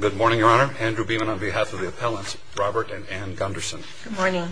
Good morning, Your Honor. Andrew Beeman on behalf of the appellants Robert and Anne Gunderson. Good morning.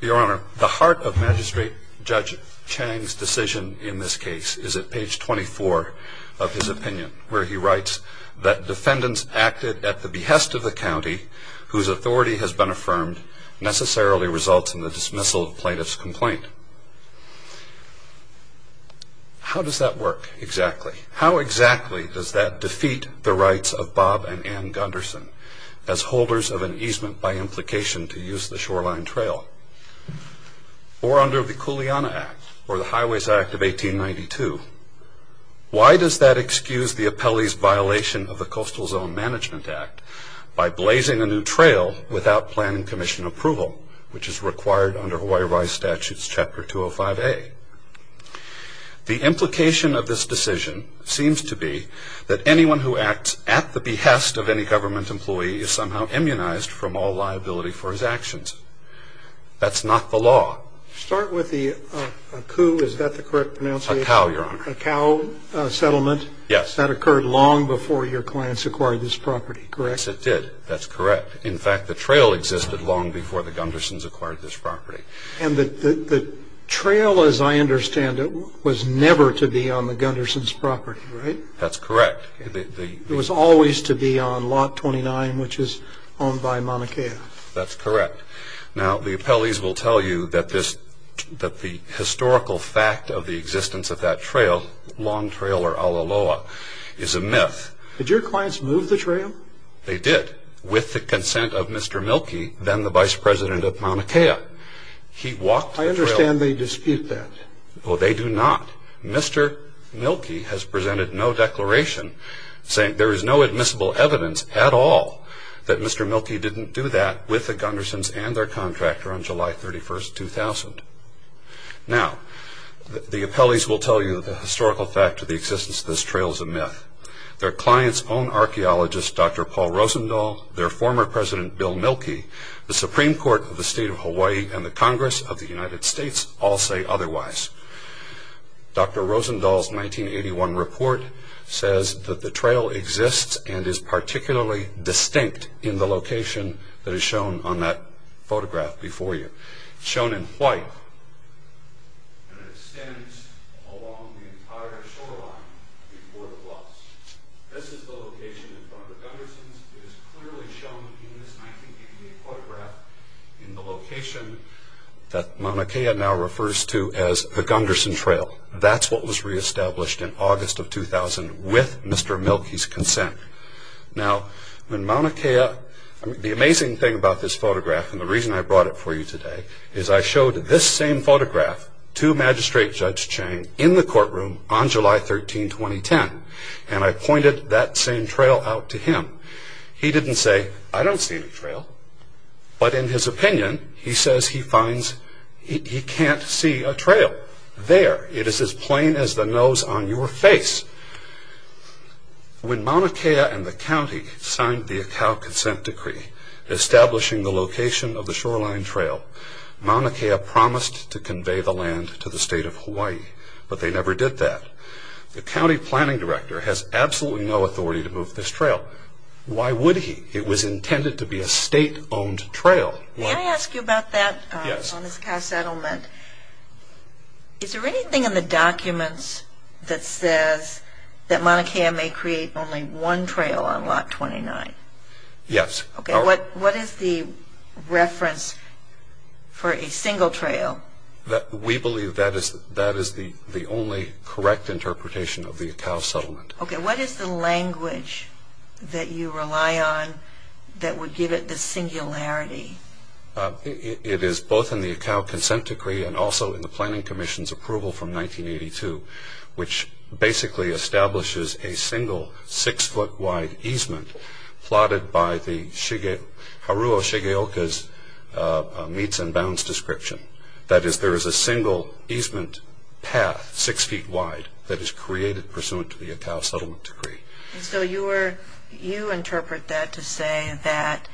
Your Honor, the heart of Magistrate Judge Chang's decision in this case is at page 24 of his opinion where he writes that defendants acted at the behest of the county whose authority has been affirmed necessarily results in the dismissal of plaintiff's complaint. How does that work exactly? How exactly does that defeat the rights of Bob and Anne Gunderson as holders of an easement by implication to use the shoreline trail? Or under the Cooliana Act or the Highways Act of 1892, why does that excuse the appellee's violation of the Coastal Zone Management Act by blazing a new trail without planning commission approval, which is required under Hawaii RISE Statutes Chapter 205A? The implication of this decision seems to be that anyone who acts at the behest of any government employee is somehow immunized from all liability for his actions. That's not the law. Start with the, a coup, is that the correct pronunciation? A cow, Your Honor. A cow settlement? Yes. That occurred long before your clients acquired this property, correct? Yes, it did. That's correct. In fact, the trail existed long before the Gundersons acquired this property. And the trail, as I understand it, was never to be on the Gundersons' property, right? That's correct. It was always to be on Lot 29, which is owned by Mauna Kea. That's correct. Now, the appellees will tell you that this, that the historical fact of the existence of that trail, Long Trail or Ala Loa, is a myth. Did they walk the trail? They did, with the consent of Mr. Mielke, then the Vice President of Mauna Kea. He walked the trail. I understand they dispute that. Well, they do not. Mr. Mielke has presented no declaration saying there is no admissible evidence at all that Mr. Mielke didn't do that with the Gundersons and their contractor on July 31, 2000. Now, the appellees will tell you that the historical fact of the existence of this archaeologist, Dr. Paul Rosendahl, their former President Bill Mielke, the Supreme Court of the State of Hawaii, and the Congress of the United States all say otherwise. Dr. Rosendahl's 1981 report says that the trail exists and is particularly distinct in the location that is shown on that photograph before you. It's shown in white, and it extends along the entire shoreline before the gloss. This is the location in front of the Gundersons. It is clearly shown in this 1988 photograph in the location that Mauna Kea now refers to as the Gunderson Trail. That's what was reestablished in August of 2000 with Mr. Mielke's consent. Now, when Mauna Kea, the amazing thing about this photograph and the reason I brought it for you today is I showed this same photograph to Magistrate Judge Chang in the courtroom on July 13, 2010, and I pointed that same trail out to him. He didn't say, I don't see any trail, but in his opinion, he says he finds he can't see a trail there. It is as plain as the nose on your face. When Mauna Kea and the county signed the Akau Consent Decree establishing the location of the shoreline trail, Mauna Kea promised to convey the land to the state of Hawaii, but they never did that. The county planning director has absolutely no authority to move this trail. Why would he? It was intended to be a state-owned trail. Can I ask you about that? Yes. Is there anything in the documents that says that Mauna Kea may create only one trail on Lot 29? Yes. What is the reference for a single trail? We believe that is the only correct interpretation of the Akau settlement. What is the language that you rely on that would give it the singularity? It is both in the Akau Consent Decree and also in the Planning Commission's approval from 1982, which basically establishes a single six-foot-wide easement plotted by the Harua Shigeoka's meets and bounds description. That is, there is a single easement path, six feet wide, that is created pursuant to the Akau settlement decree. You interpret that to say that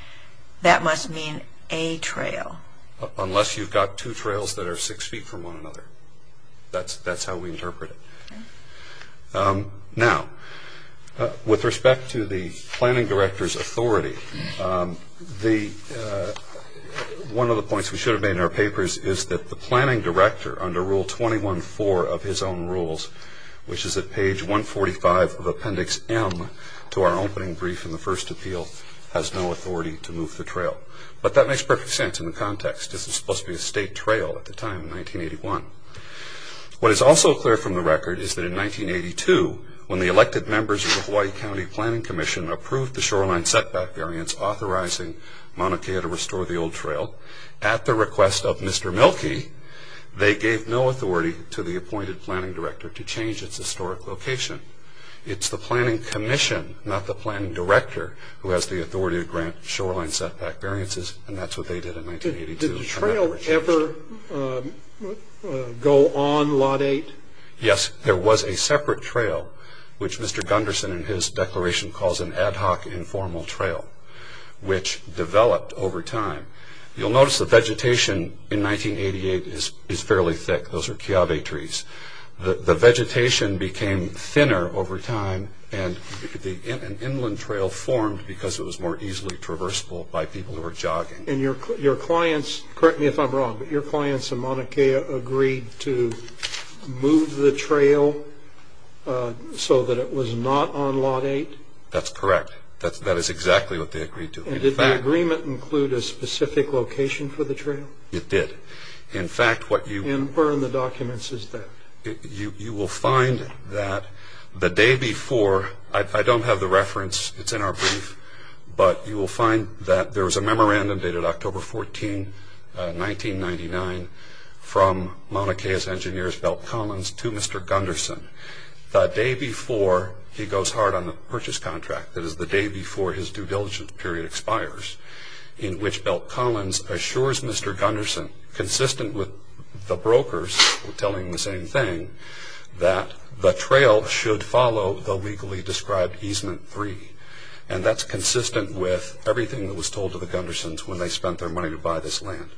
that must mean a trail? Unless you've got two trails that are six feet from one another. That's how we interpret it. Now, with respect to the planning director's authority, one of the points we should have made in our papers is that the planning director, under Rule 21-4 of his own rules, which is at page 145 of Appendix M to our opening brief in the first appeal, has no authority to move the trail. But that makes perfect sense in the context. This was supposed to be a state trail at the time, in 1981. What is also clear from the record is that in 1982, when the elected members of the Hawaii County Planning Commission approved the shoreline setback variance authorizing Mauna Kea to restore the old trail, at the request of Mr. Milkey, they gave no authority to the appointed planning director to change its historic location. It's the planning commission, not the planning director, who has the authority to grant shoreline setback variances, and that's what they did in 1982. Did the trail ever go on Lot 8? Yes. There was a separate trail, which Mr. Gunderson in his declaration calls an ad hoc informal trail, which developed over time. You'll notice the vegetation in 1988 is fairly thick. Those are keawe trees. The vegetation became thinner over time, and an inland trail formed because it was more easily traversable by people who were jogging. Your clients, correct me if I'm wrong, but your clients in Mauna Kea agreed to move the trail so that it was not on Lot 8? That's correct. That is exactly what they agreed to. Did the agreement include a specific location for the trail? It did. In fact, what you... And where in the documents is that? You will find that the day before, I don't have the reference, it's in our brief, but you will find that there was a memorandum dated October 14, 1999, from Mauna Kea's engineers Belt Collins to Mr. Gunderson. The day before he goes hard on the purchase contract, that is the day before his due diligence period expires, in which Belt Collins assures Mr. Gunderson the same thing, that the trail should follow the legally described easement 3. That's consistent with everything that was told to the Gundersons when they spent their money to buy this land.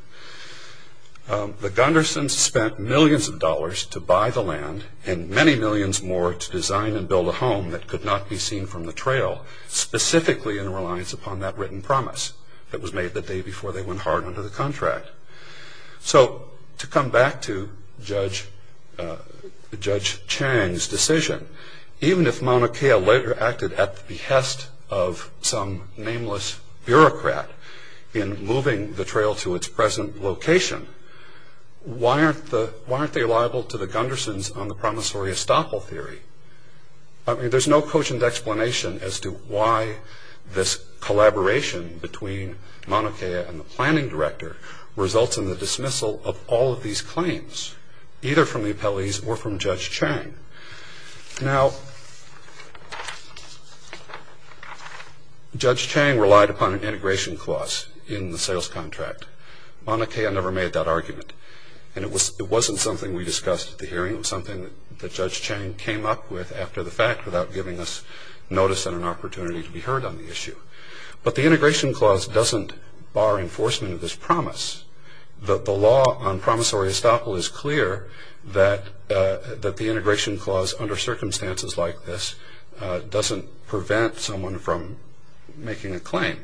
The Gundersons spent millions of dollars to buy the land, and many millions more to design and build a home that could not be seen from the trail, specifically in reliance upon that written promise that was made the day before they went hard under the contract. So, to come back to Judge Chang's decision, even if Mauna Kea later acted at the behest of some nameless bureaucrat in moving the trail to its present location, why aren't they liable to the Gundersons on the promissory estoppel theory? I mean, there's no cogent explanation as to why this collaboration between Mauna Kea and the planning director results in the dismissal of all of these claims, either from the appellees or from Judge Chang. Now, Judge Chang relied upon an integration clause in the sales contract. Mauna Kea never made that argument, and it wasn't something we discussed at the hearing. It was something that Judge Chang came up with after the fact without giving us notice and an opportunity to be heard on the issue. But the integration clause doesn't bar enforcement of this promise. The law on promissory estoppel is clear that the integration clause under circumstances like this doesn't prevent someone from making a claim.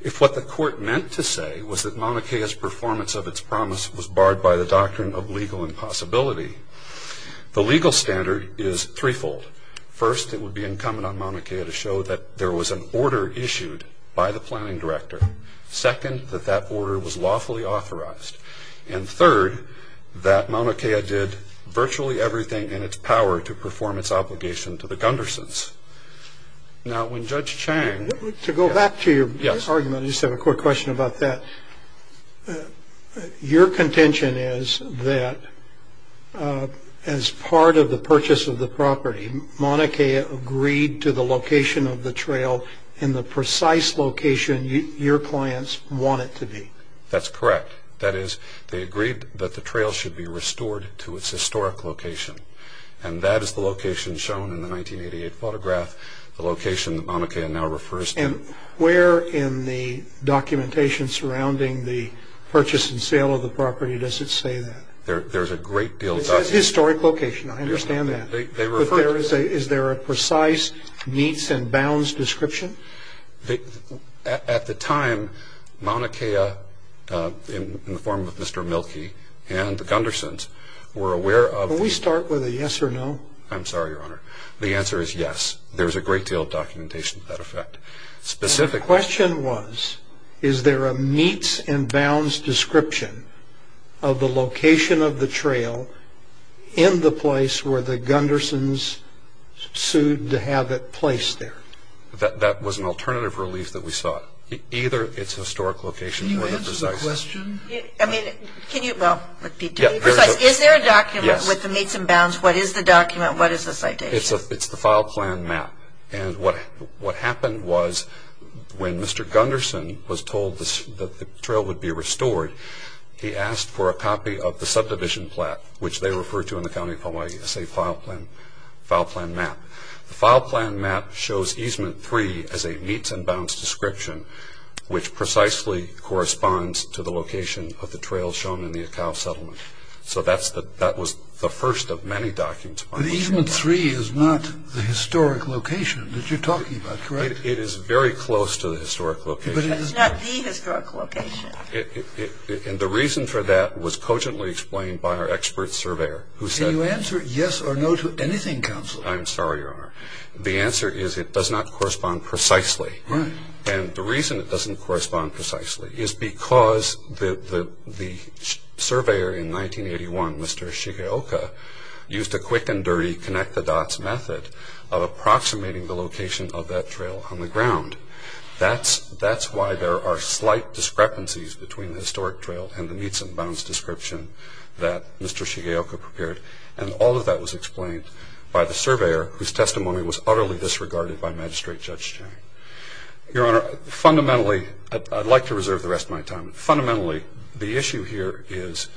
If what the court meant to say was that Mauna Kea's performance of its promise was barred by the doctrine of legal impossibility, the legal standard is threefold. First, it would be incumbent on Mauna Kea to show that there was an order issued by the planning director. Second, that that order was lawfully authorized. And third, that Mauna Kea did virtually everything in its power to perform its obligation to the Gundersons. Now, when Judge Chang... Your contention is that as part of the purchase of the property, Mauna Kea agreed to the location of the trail in the precise location your clients want it to be. That's correct. That is, they agreed that the trail should be restored to its historic location. And that is the location shown in the 1988 photograph, the location that Mauna Kea now refers to. And where in the documentation surrounding the purchase and sale of the property does it say that? There's a great deal... It says historic location. I understand that. They refer to... But is there a precise meets and bounds description? At the time, Mauna Kea, in the form of Mr. Mielke and the Gundersons, were aware of... Can we start with a yes or no? I'm sorry, Your Honor. The answer is yes. There's a great deal of documentation to that effect. Specifically... The question was, is there a meets and bounds description of the location of the trail in the place where the Gundersons sued to have it placed there? That was an alternative relief that we sought. Either its historic location or the precise... Can you answer the question? I mean, can you... Well, repeat to me. Yes. Is there a document with the meets and bounds? What is the document? What is the citation? It's the file plan map. And what happened was, when Mr. Gunderson was told that the trail would be restored, he asked for a copy of the subdivision plaque, which they refer to in the County of Hawaii as a file plan map. The file plan map shows easement three as a meets and bounds description, which precisely corresponds to the location of the trail shown in the Akau settlement. So that was the first of many documents... But easement three is not the historic location that you're talking about, correct? It is very close to the historic location. But it is not the historic location. And the reason for that was cogently explained by our expert surveyor, who said... Can you answer yes or no to anything, Counsel? I'm sorry, Your Honor. The answer is it does not correspond precisely. Right. And the reason it doesn't correspond precisely is because the surveyor in 1981, Mr. Shigeoka, used a quick and dirty connect-the-dots method of approximating the location of that trail on the ground. That's why there are slight discrepancies between the historic trail and the meets and bounds description that Mr. Shigeoka prepared. And all of that was explained by the surveyor, whose testimony was utterly disregarded by Magistrate Judge Chang. Your Honor, fundamentally... I'd like to reserve the rest of my time. Fundamentally, the issue here is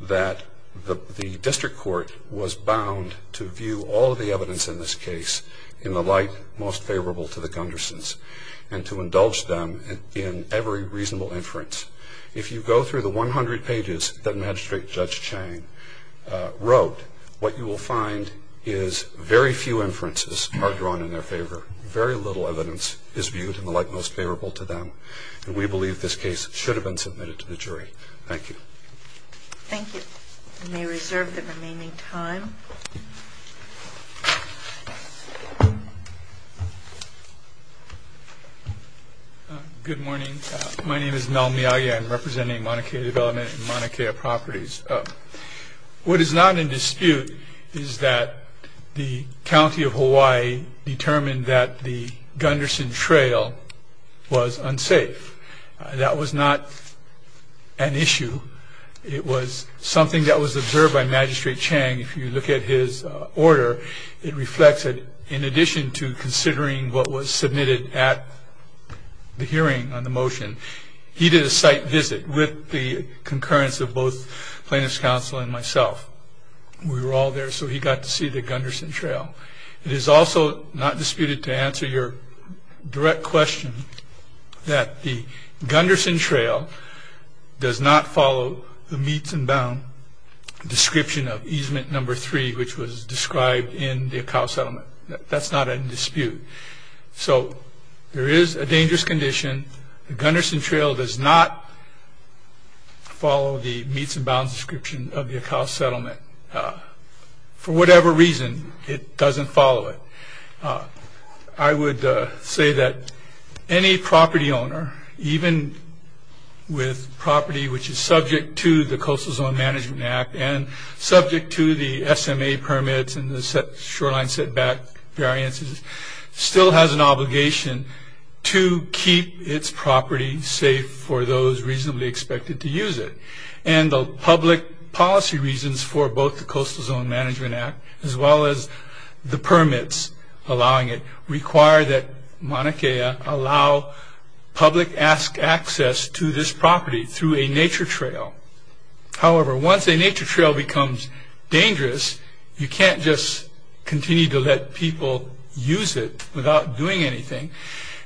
that the district court was bound to view all of the evidence in this case in the light most favorable to the Gundersens, and to indulge them in every reasonable inference. If you go through the 100 pages that Magistrate Judge Chang wrote, what you will find is very few inferences are drawn in their favor. Very little evidence is viewed in the light most favorable to them. And we believe this case should have been submitted to the jury. Thank you. Thank you. I may reserve the remaining time. Good morning. My name is Mel Miyagi. I'm representing Mauna Kea Development and Mauna Kea Properties. What is not in dispute is that the County of Hawaii determined that the Gundersen Trail was unsafe. That was not an issue. It was something that was observed by Magistrate Chang. If you look at his order, it reflects that in addition to considering what was submitted at the hearing on the motion, he did a site visit with the concurrence of both plaintiff's counsel and myself. We were all there, so he got to see the Gundersen Trail. It is also not disputed to answer your direct question that the Gundersen Trail does not follow the meets and bound description of easement number three, which was described in the Akau settlement. That's not in dispute. So there is a dangerous condition. The Gundersen Trail does not follow the meets and bounds description of the Akau settlement. For whatever reason, it doesn't follow it. I would say that any property owner, even with property which is subject to the Coastal Zone Management Act and subject to the SMA safe for those reasonably expected to use it. The public policy reasons for both the Coastal Zone Management Act as well as the permits allowing it require that Mauna Kea allow public access to this property through a nature trail. However, once a nature trail becomes dangerous, you can't just continue to let people use it without doing anything.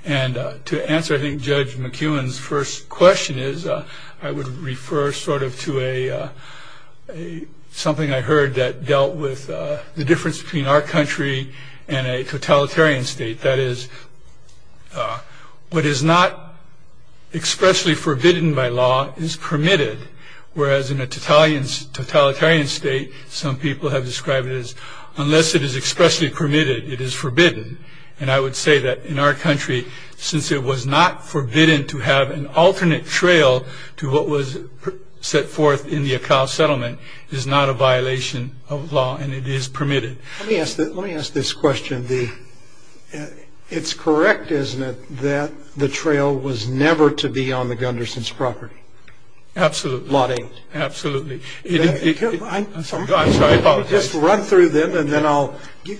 To answer, I think, Judge McEwen's first question is, I would refer sort of to something I heard that dealt with the difference between our country and a totalitarian state. That is, what is not expressly forbidden by law is permitted, whereas in a totalitarian state, some people have described it as, unless it is expressly permitted, it is forbidden. I would say that in our country, since it was not forbidden to have an alternate trail to what was set forth in the Akau settlement, it is not a violation of law and it is permitted. Let me ask this question. It's correct, isn't it, that the trail was never to be on the Gundersen's property? Absolutely. Lot A. Absolutely. I'm sorry. I'm sorry, I apologize. Just run through them and then I'll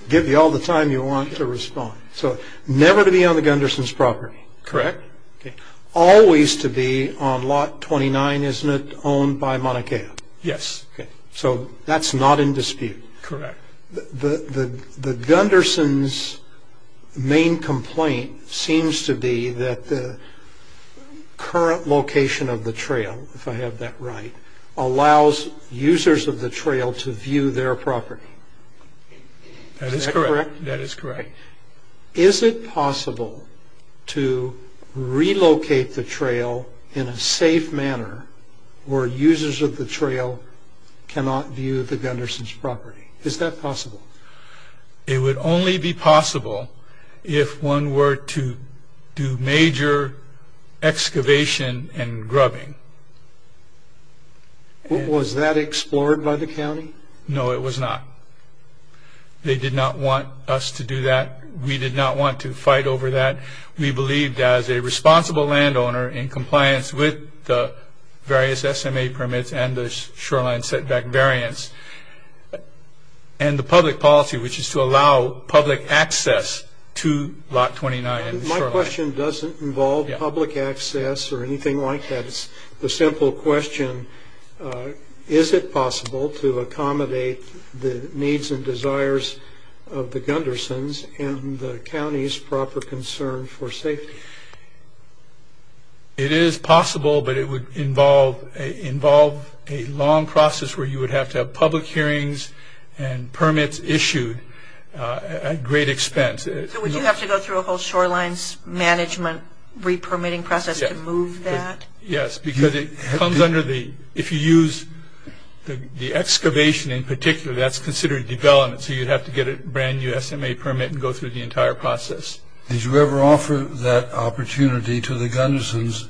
give you all the time you want to respond. So, never to be on the Gundersen's property? Correct. Always to be on Lot 29, isn't it, owned by Mauna Kea? Yes. So, that's not in dispute? Correct. The Gundersen's main complaint seems to be that the current location of the trail, if That is correct. That is correct. Is it possible to relocate the trail in a safe manner where users of the trail cannot view the Gundersen's property? Is that possible? It would only be possible if one were to do major excavation and grubbing. Was that explored by the county? No, it was not. They did not want us to do that. We did not want to fight over that. We believed, as a responsible landowner, in compliance with the various SMA permits and the shoreline setback variance, and the public policy, which is to allow public access to Lot 29. My question doesn't involve public access or anything like that. It's a simple question. Is it possible to accommodate the needs and desires of the Gundersen's and the county's proper concern for safety? It is possible, but it would involve a long process where you would have to have public hearings and permits issued at great expense. So, would you have to go through a whole shoreline management re-permitting process to move that? Yes, because if you use the excavation in particular, that's considered development, so you'd have to get a brand new SMA permit and go through the entire process. Did you ever offer that opportunity to the Gundersen's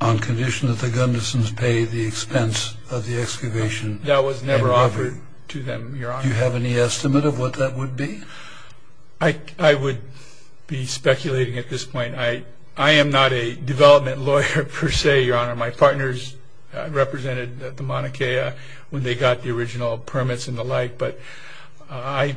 on condition that the Gundersen's pay the expense of the excavation? That was never offered to them, Your Honor. Do you have any estimate of what that would be? I would be speculating at this point. I am not a development lawyer per se, Your Honor. My partners represented the Mauna Kea when they got the original permits and the like, but I,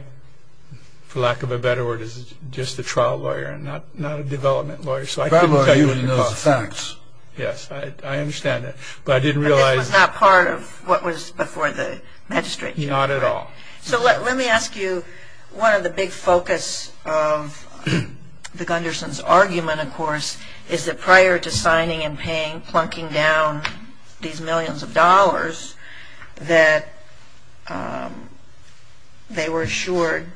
for lack of a better word, is just a trial lawyer and not a development lawyer. So I couldn't tell you any of those facts. Yes, I understand that, but I didn't realize... But this was not part of what was before the magistrate? Not at all. So let me ask you, one of the big focus of the Gundersen's argument, of course, is that prior to signing and plunking down these millions of dollars, that they were assured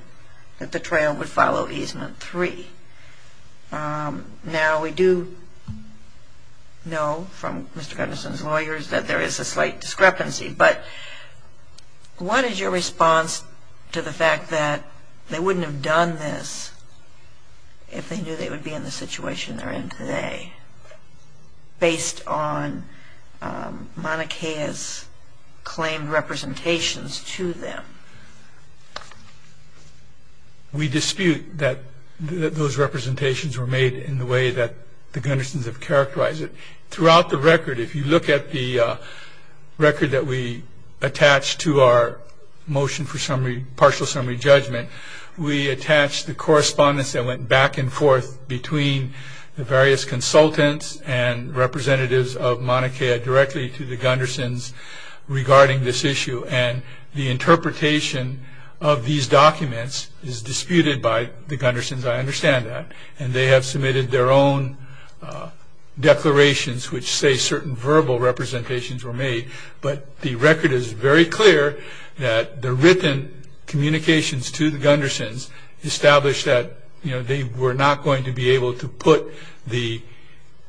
that the trial would follow easement three. Now, we do know from Mr. Gundersen's lawyers that there is a slight discrepancy, but what is your response to the fact that they wouldn't have done this if they knew they would be in the situation they're in today, based on Mauna Kea's claimed representations to them? We dispute that those representations were made in the way that the Gundersen's have characterized it. Throughout the record, if you look at the record that we attached to our motion for partial summary judgment, we attached the correspondence that went back and forth between the various consultants and representatives of Mauna Kea directly to the Gundersen's regarding this issue, and the interpretation of these documents is disputed by the Gundersen's, I understand that, and they have submitted their own declarations which say certain verbal representations were made, but the record is very clear that the written communications to the Gundersen's established that they were not going to be able to put the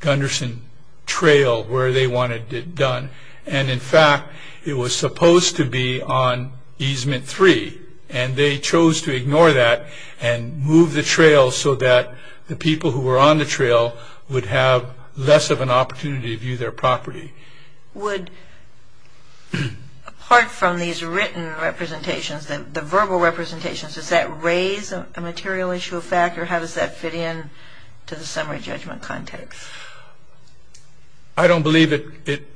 Gundersen trail where they wanted it done, and in fact, it was supposed to be on easement three, and they chose to ignore that and move the trail so that the people who were on the trail would have less of an opportunity to view their property. Would, apart from these written representations, the verbal representations, does that raise a material issue of fact, or how does that fit in to the summary judgment context? I don't believe it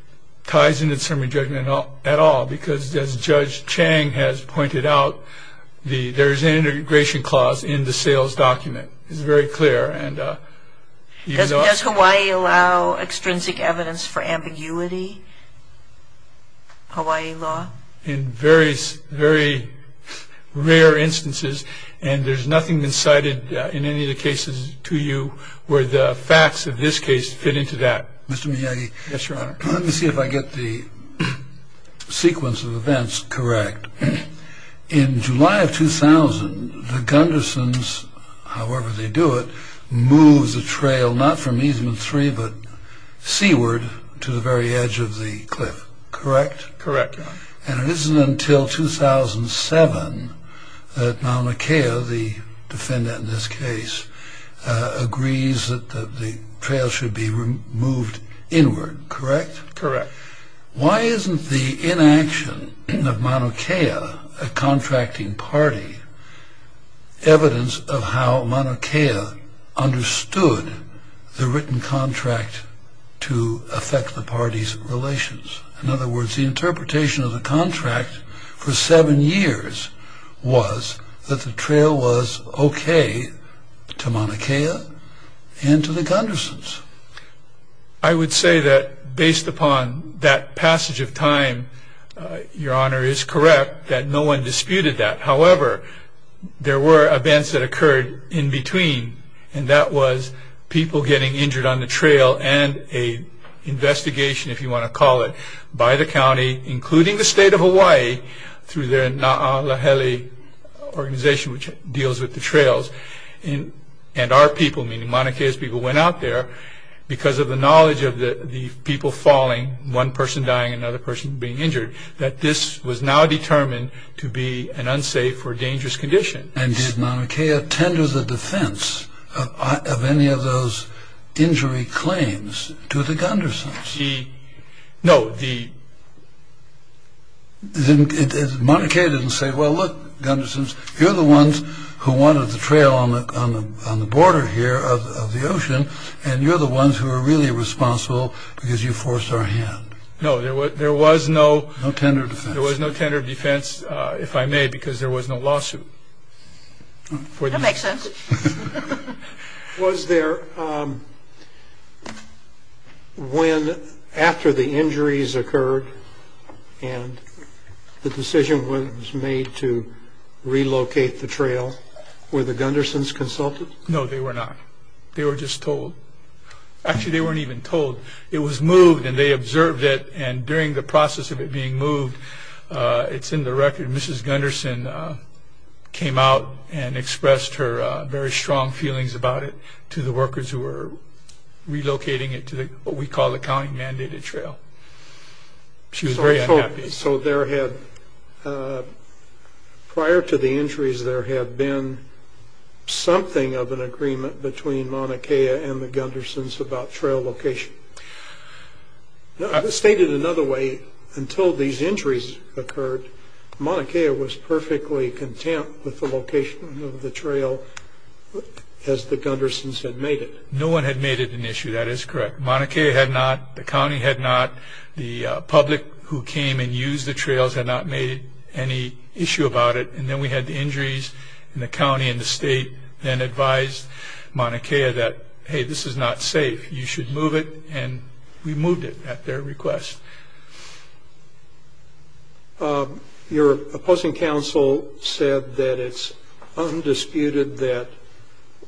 ties into the summary judgment at all, because as Judge Chang has pointed out, there's an integration clause in the sales document. It's very clear. Does Hawaii allow extrinsic evidence for ambiguity, Hawaii law? In very, very rare instances, and there's nothing that's cited in any of the cases to you where the facts of this case fit into that. Mr. Miyagi. Yes, Your Honor. Let me see if I get the sequence of events correct. In July of 2000, the Gundersen's, however they do it, moves the trail not from easement three but seaward to the very edge of the cliff, correct? Correct, Your Honor. And it isn't until 2007 that Mauna Kea, the defendant in this case, agrees that the trail should be moved inward, correct? Correct. Why isn't the inaction of Mauna Kea, a contracting party, evidence of how Mauna Kea understood the written contract to affect the party's relations? In other words, the interpretation of the contract for seven years was that the trail was okay to Mauna Kea and to the Gundersen's. I would say that based upon that passage of time, Your Honor, is correct that no one disputed that. However, there were events that occurred in between, and that was people getting injured on the trail and an investigation, if you want to call it, by the county, including the state of Hawaii, through their Na'ahele organization, which deals with the trails, and our people, meaning Mauna Kea's people, went out there because of the knowledge of the people falling, one person dying, another person being injured, that this was now determined to be an unsafe or dangerous condition. And did Mauna Kea tender the defense of any of those injury claims to the Gundersen's? No, the... Mauna Kea didn't say, well, look, Gundersen's, you're the ones who wanted the trail on the border here of the ocean, and you're the ones who are really responsible because you forced our hand. No, there was no... No tender defense. There was no tender defense, if I may, because there was no lawsuit. That makes sense. Was there, when, after the injuries occurred, and the decision was made to relocate the trail, were the Gundersen's consulted? No, they were not. They were just told. Actually, they weren't even told. It was moved, and they observed it, and during the process of it being moved, it's in the record, Mrs. Gundersen came out and expressed her very strong feelings about it to the workers who were relocating it to what we call the county-mandated trail. She was very unhappy. So there had, prior to the injuries, there had been something of an agreement between Mauna Kea and the Gundersen's about trail location. Stated another way, until these injuries occurred, Mauna Kea was perfectly content with the location of the trail as the Gundersen's had made it. No one had made it an issue. That is correct. Mauna Kea had not. The county had not. The public who came and used the trails had not made any issue about it, and then we had the injuries, and the county and the state then advised Mauna Kea that, hey, this is not safe. You should move it, and we moved it at their request. Your opposing counsel said that it's undisputed that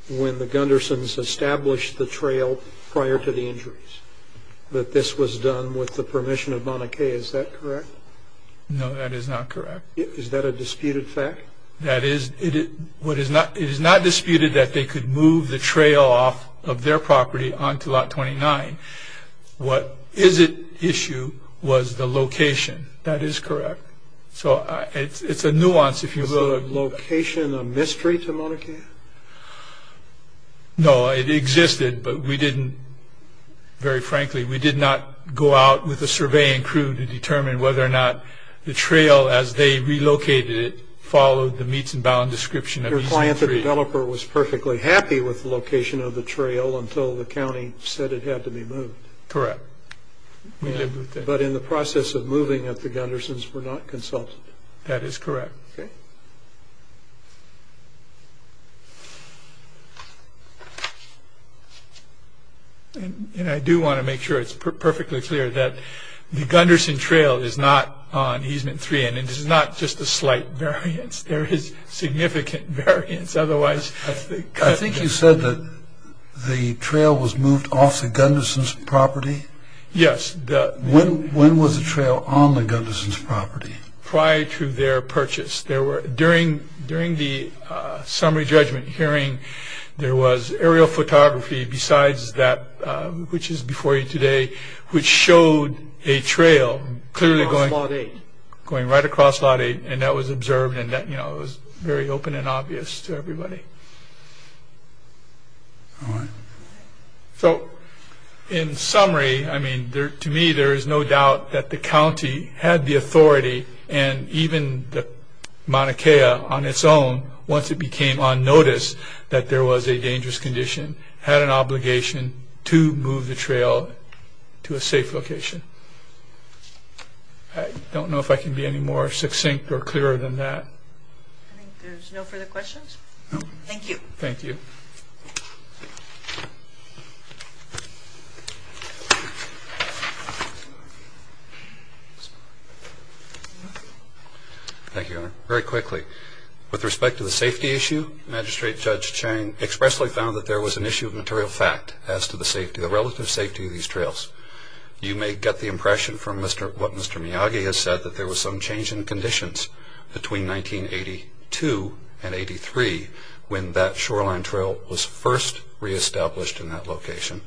when the Gundersen's established the trail prior to the injuries that this was done with the permission of Mauna Kea. Is that correct? No, that is not correct. Is that a disputed fact? That is. It is not disputed that they could move the trail off of their property onto Lot 29. What is at issue was the location. That is correct. So it's a nuance, if you will. Was the location a mystery to Mauna Kea? No, it existed, but we didn't, very frankly, we did not go out with a surveying crew to determine whether or not the trail as they relocated it followed the meets and bounds description of EZ3. Your client, the developer, was perfectly happy with the location of the trail until the county said it had to be moved. Correct. But in the process of moving it, the Gundersen's were not consulted. That is correct. Okay. And I do want to make sure it's perfectly clear that the Gundersen trail is not on EZ3 and it is not just a slight variance. There is significant variance. Otherwise, the Gundersen trail was moved off the Gundersen's property? Yes. When was the trail on the Gundersen's property? Prior to their purchase. During the summary judgment hearing, there was aerial photography besides that, which is before you today, which showed a trail clearly going right across Lot 8, and that was observed and it was very open and obvious to everybody. All right. So, in summary, I mean, to me, there is no doubt that the county had the authority and even the Mauna Kea on its own, once it became on notice that there was a dangerous condition, had an obligation to move the trail to a safe location. I don't know if I can be any more succinct or clearer than that. I think there's no further questions. Thank you. Thank you. Thank you, Your Honor. Very quickly, with respect to the safety issue, Magistrate Judge Chang expressly found that there was an issue of material fact as to the safety, the relative safety of these trails. You may get the impression from what Mr. Miyagi has said, that there was some change in conditions between 1982 and 83, when that shoreline trail was first reestablished in that location,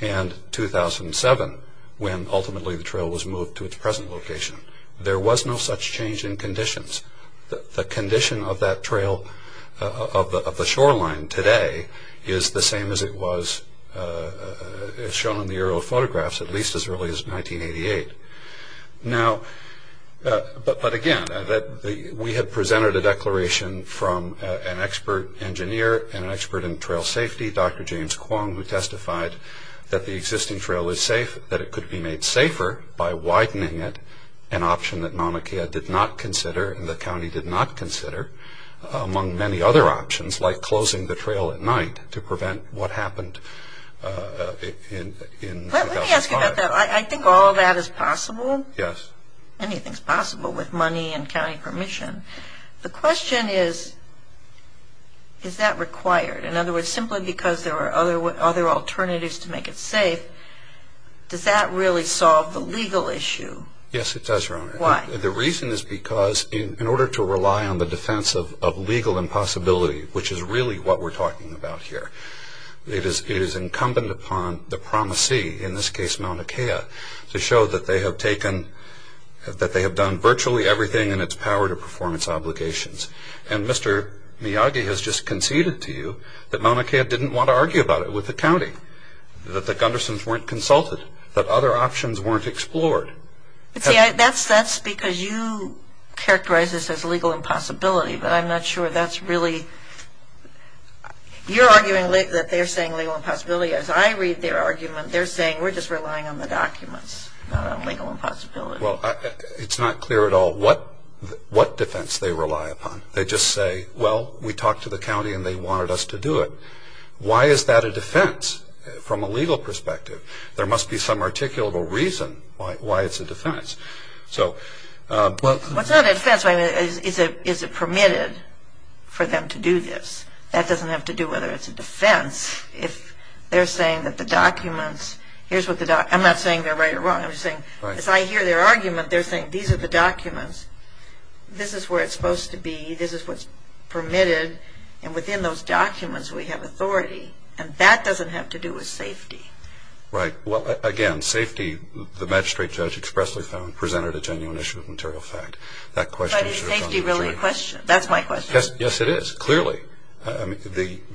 and 2007, when ultimately the trail was moved to its present location. There was no such change in conditions. The condition of that trail, of the shoreline today, is the same as it was shown in the aerial photographs, at least as early as 1988. Now, but again, we had presented a declaration from an expert engineer and an expert in trail safety, Dr. James Kwong, who testified that the existing trail is safe, that it could be made safer by widening it, an option that Mauna Kea did not consider and the county did not consider, among many other options, like closing the trail at night to prevent what happened in 2005. Let me ask you about that. I think all of that is possible. Yes. Anything is possible with money and county permission. The question is, is that required? In other words, simply because there are other alternatives to make it safe, does that really solve the legal issue? Yes, it does, Your Honor. Why? The reason is because in order to rely on the defense of legal impossibility, which is really what we're talking about here, it is incumbent upon the promisee, in this case Mauna Kea, to show that they have taken, that they have done virtually everything in its power to perform its obligations. And Mr. Miyagi has just conceded to you that Mauna Kea didn't want to argue about it with the county, that the Gundersons weren't consulted, that other options weren't explored. See, that's because you characterize this as legal impossibility, but I'm not sure that's really... That they're saying legal impossibility. As I read their argument, they're saying we're just relying on the documents, not on legal impossibility. Well, it's not clear at all what defense they rely upon. They just say, well, we talked to the county and they wanted us to do it. Why is that a defense from a legal perspective? There must be some articulable reason why it's a defense. So... Well, it's not a defense. I mean, is it permitted for them to do this? That doesn't have to do whether it's a defense. If they're saying that the documents... I'm not saying they're right or wrong. I'm just saying, as I hear their argument, they're saying these are the documents, this is where it's supposed to be, this is what's permitted, and within those documents we have authority. And that doesn't have to do with safety. Right. Well, again, safety, the magistrate judge expressly presented a genuine issue of material fact. But is safety really a question? That's my question. Yes, it is, clearly.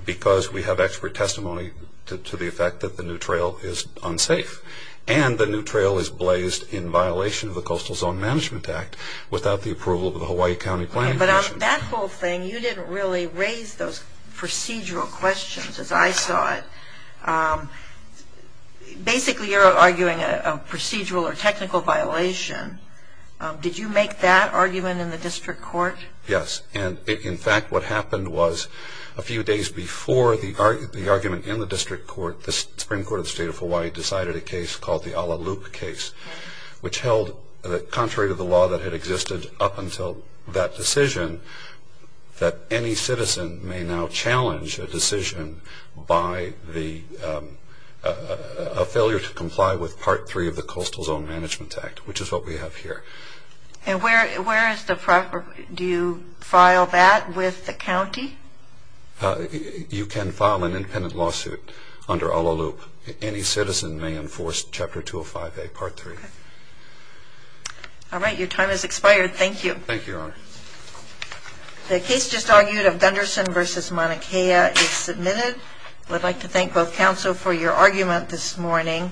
Because we have expert testimony to the effect that the new trail is unsafe and the new trail is blazed in violation of the Coastal Zone Management Act without the approval of the Hawaii County Planning Commission. But on that whole thing, you didn't really raise those procedural questions as I saw it. Basically, you're arguing a procedural or technical violation. Did you make that argument in the district court? Yes. And, in fact, what happened was a few days before the argument in the district court, the Supreme Court of the State of Hawaii decided a case called the Ala Luke case, which held that contrary to the law that had existed up until that decision, that any citizen may now challenge a decision by a failure to comply with Part 3 of the Coastal Zone Management Act, which is what we have here. And where is the proper – do you file that with the county? You can file an independent lawsuit under Ala Luke. Any citizen may enforce Chapter 205A, Part 3. All right. Your time has expired. Thank you. Thank you, Your Honor. The case just argued of Gunderson v. Mauna Kea is submitted. I'd like to thank both counsel for your argument this morning.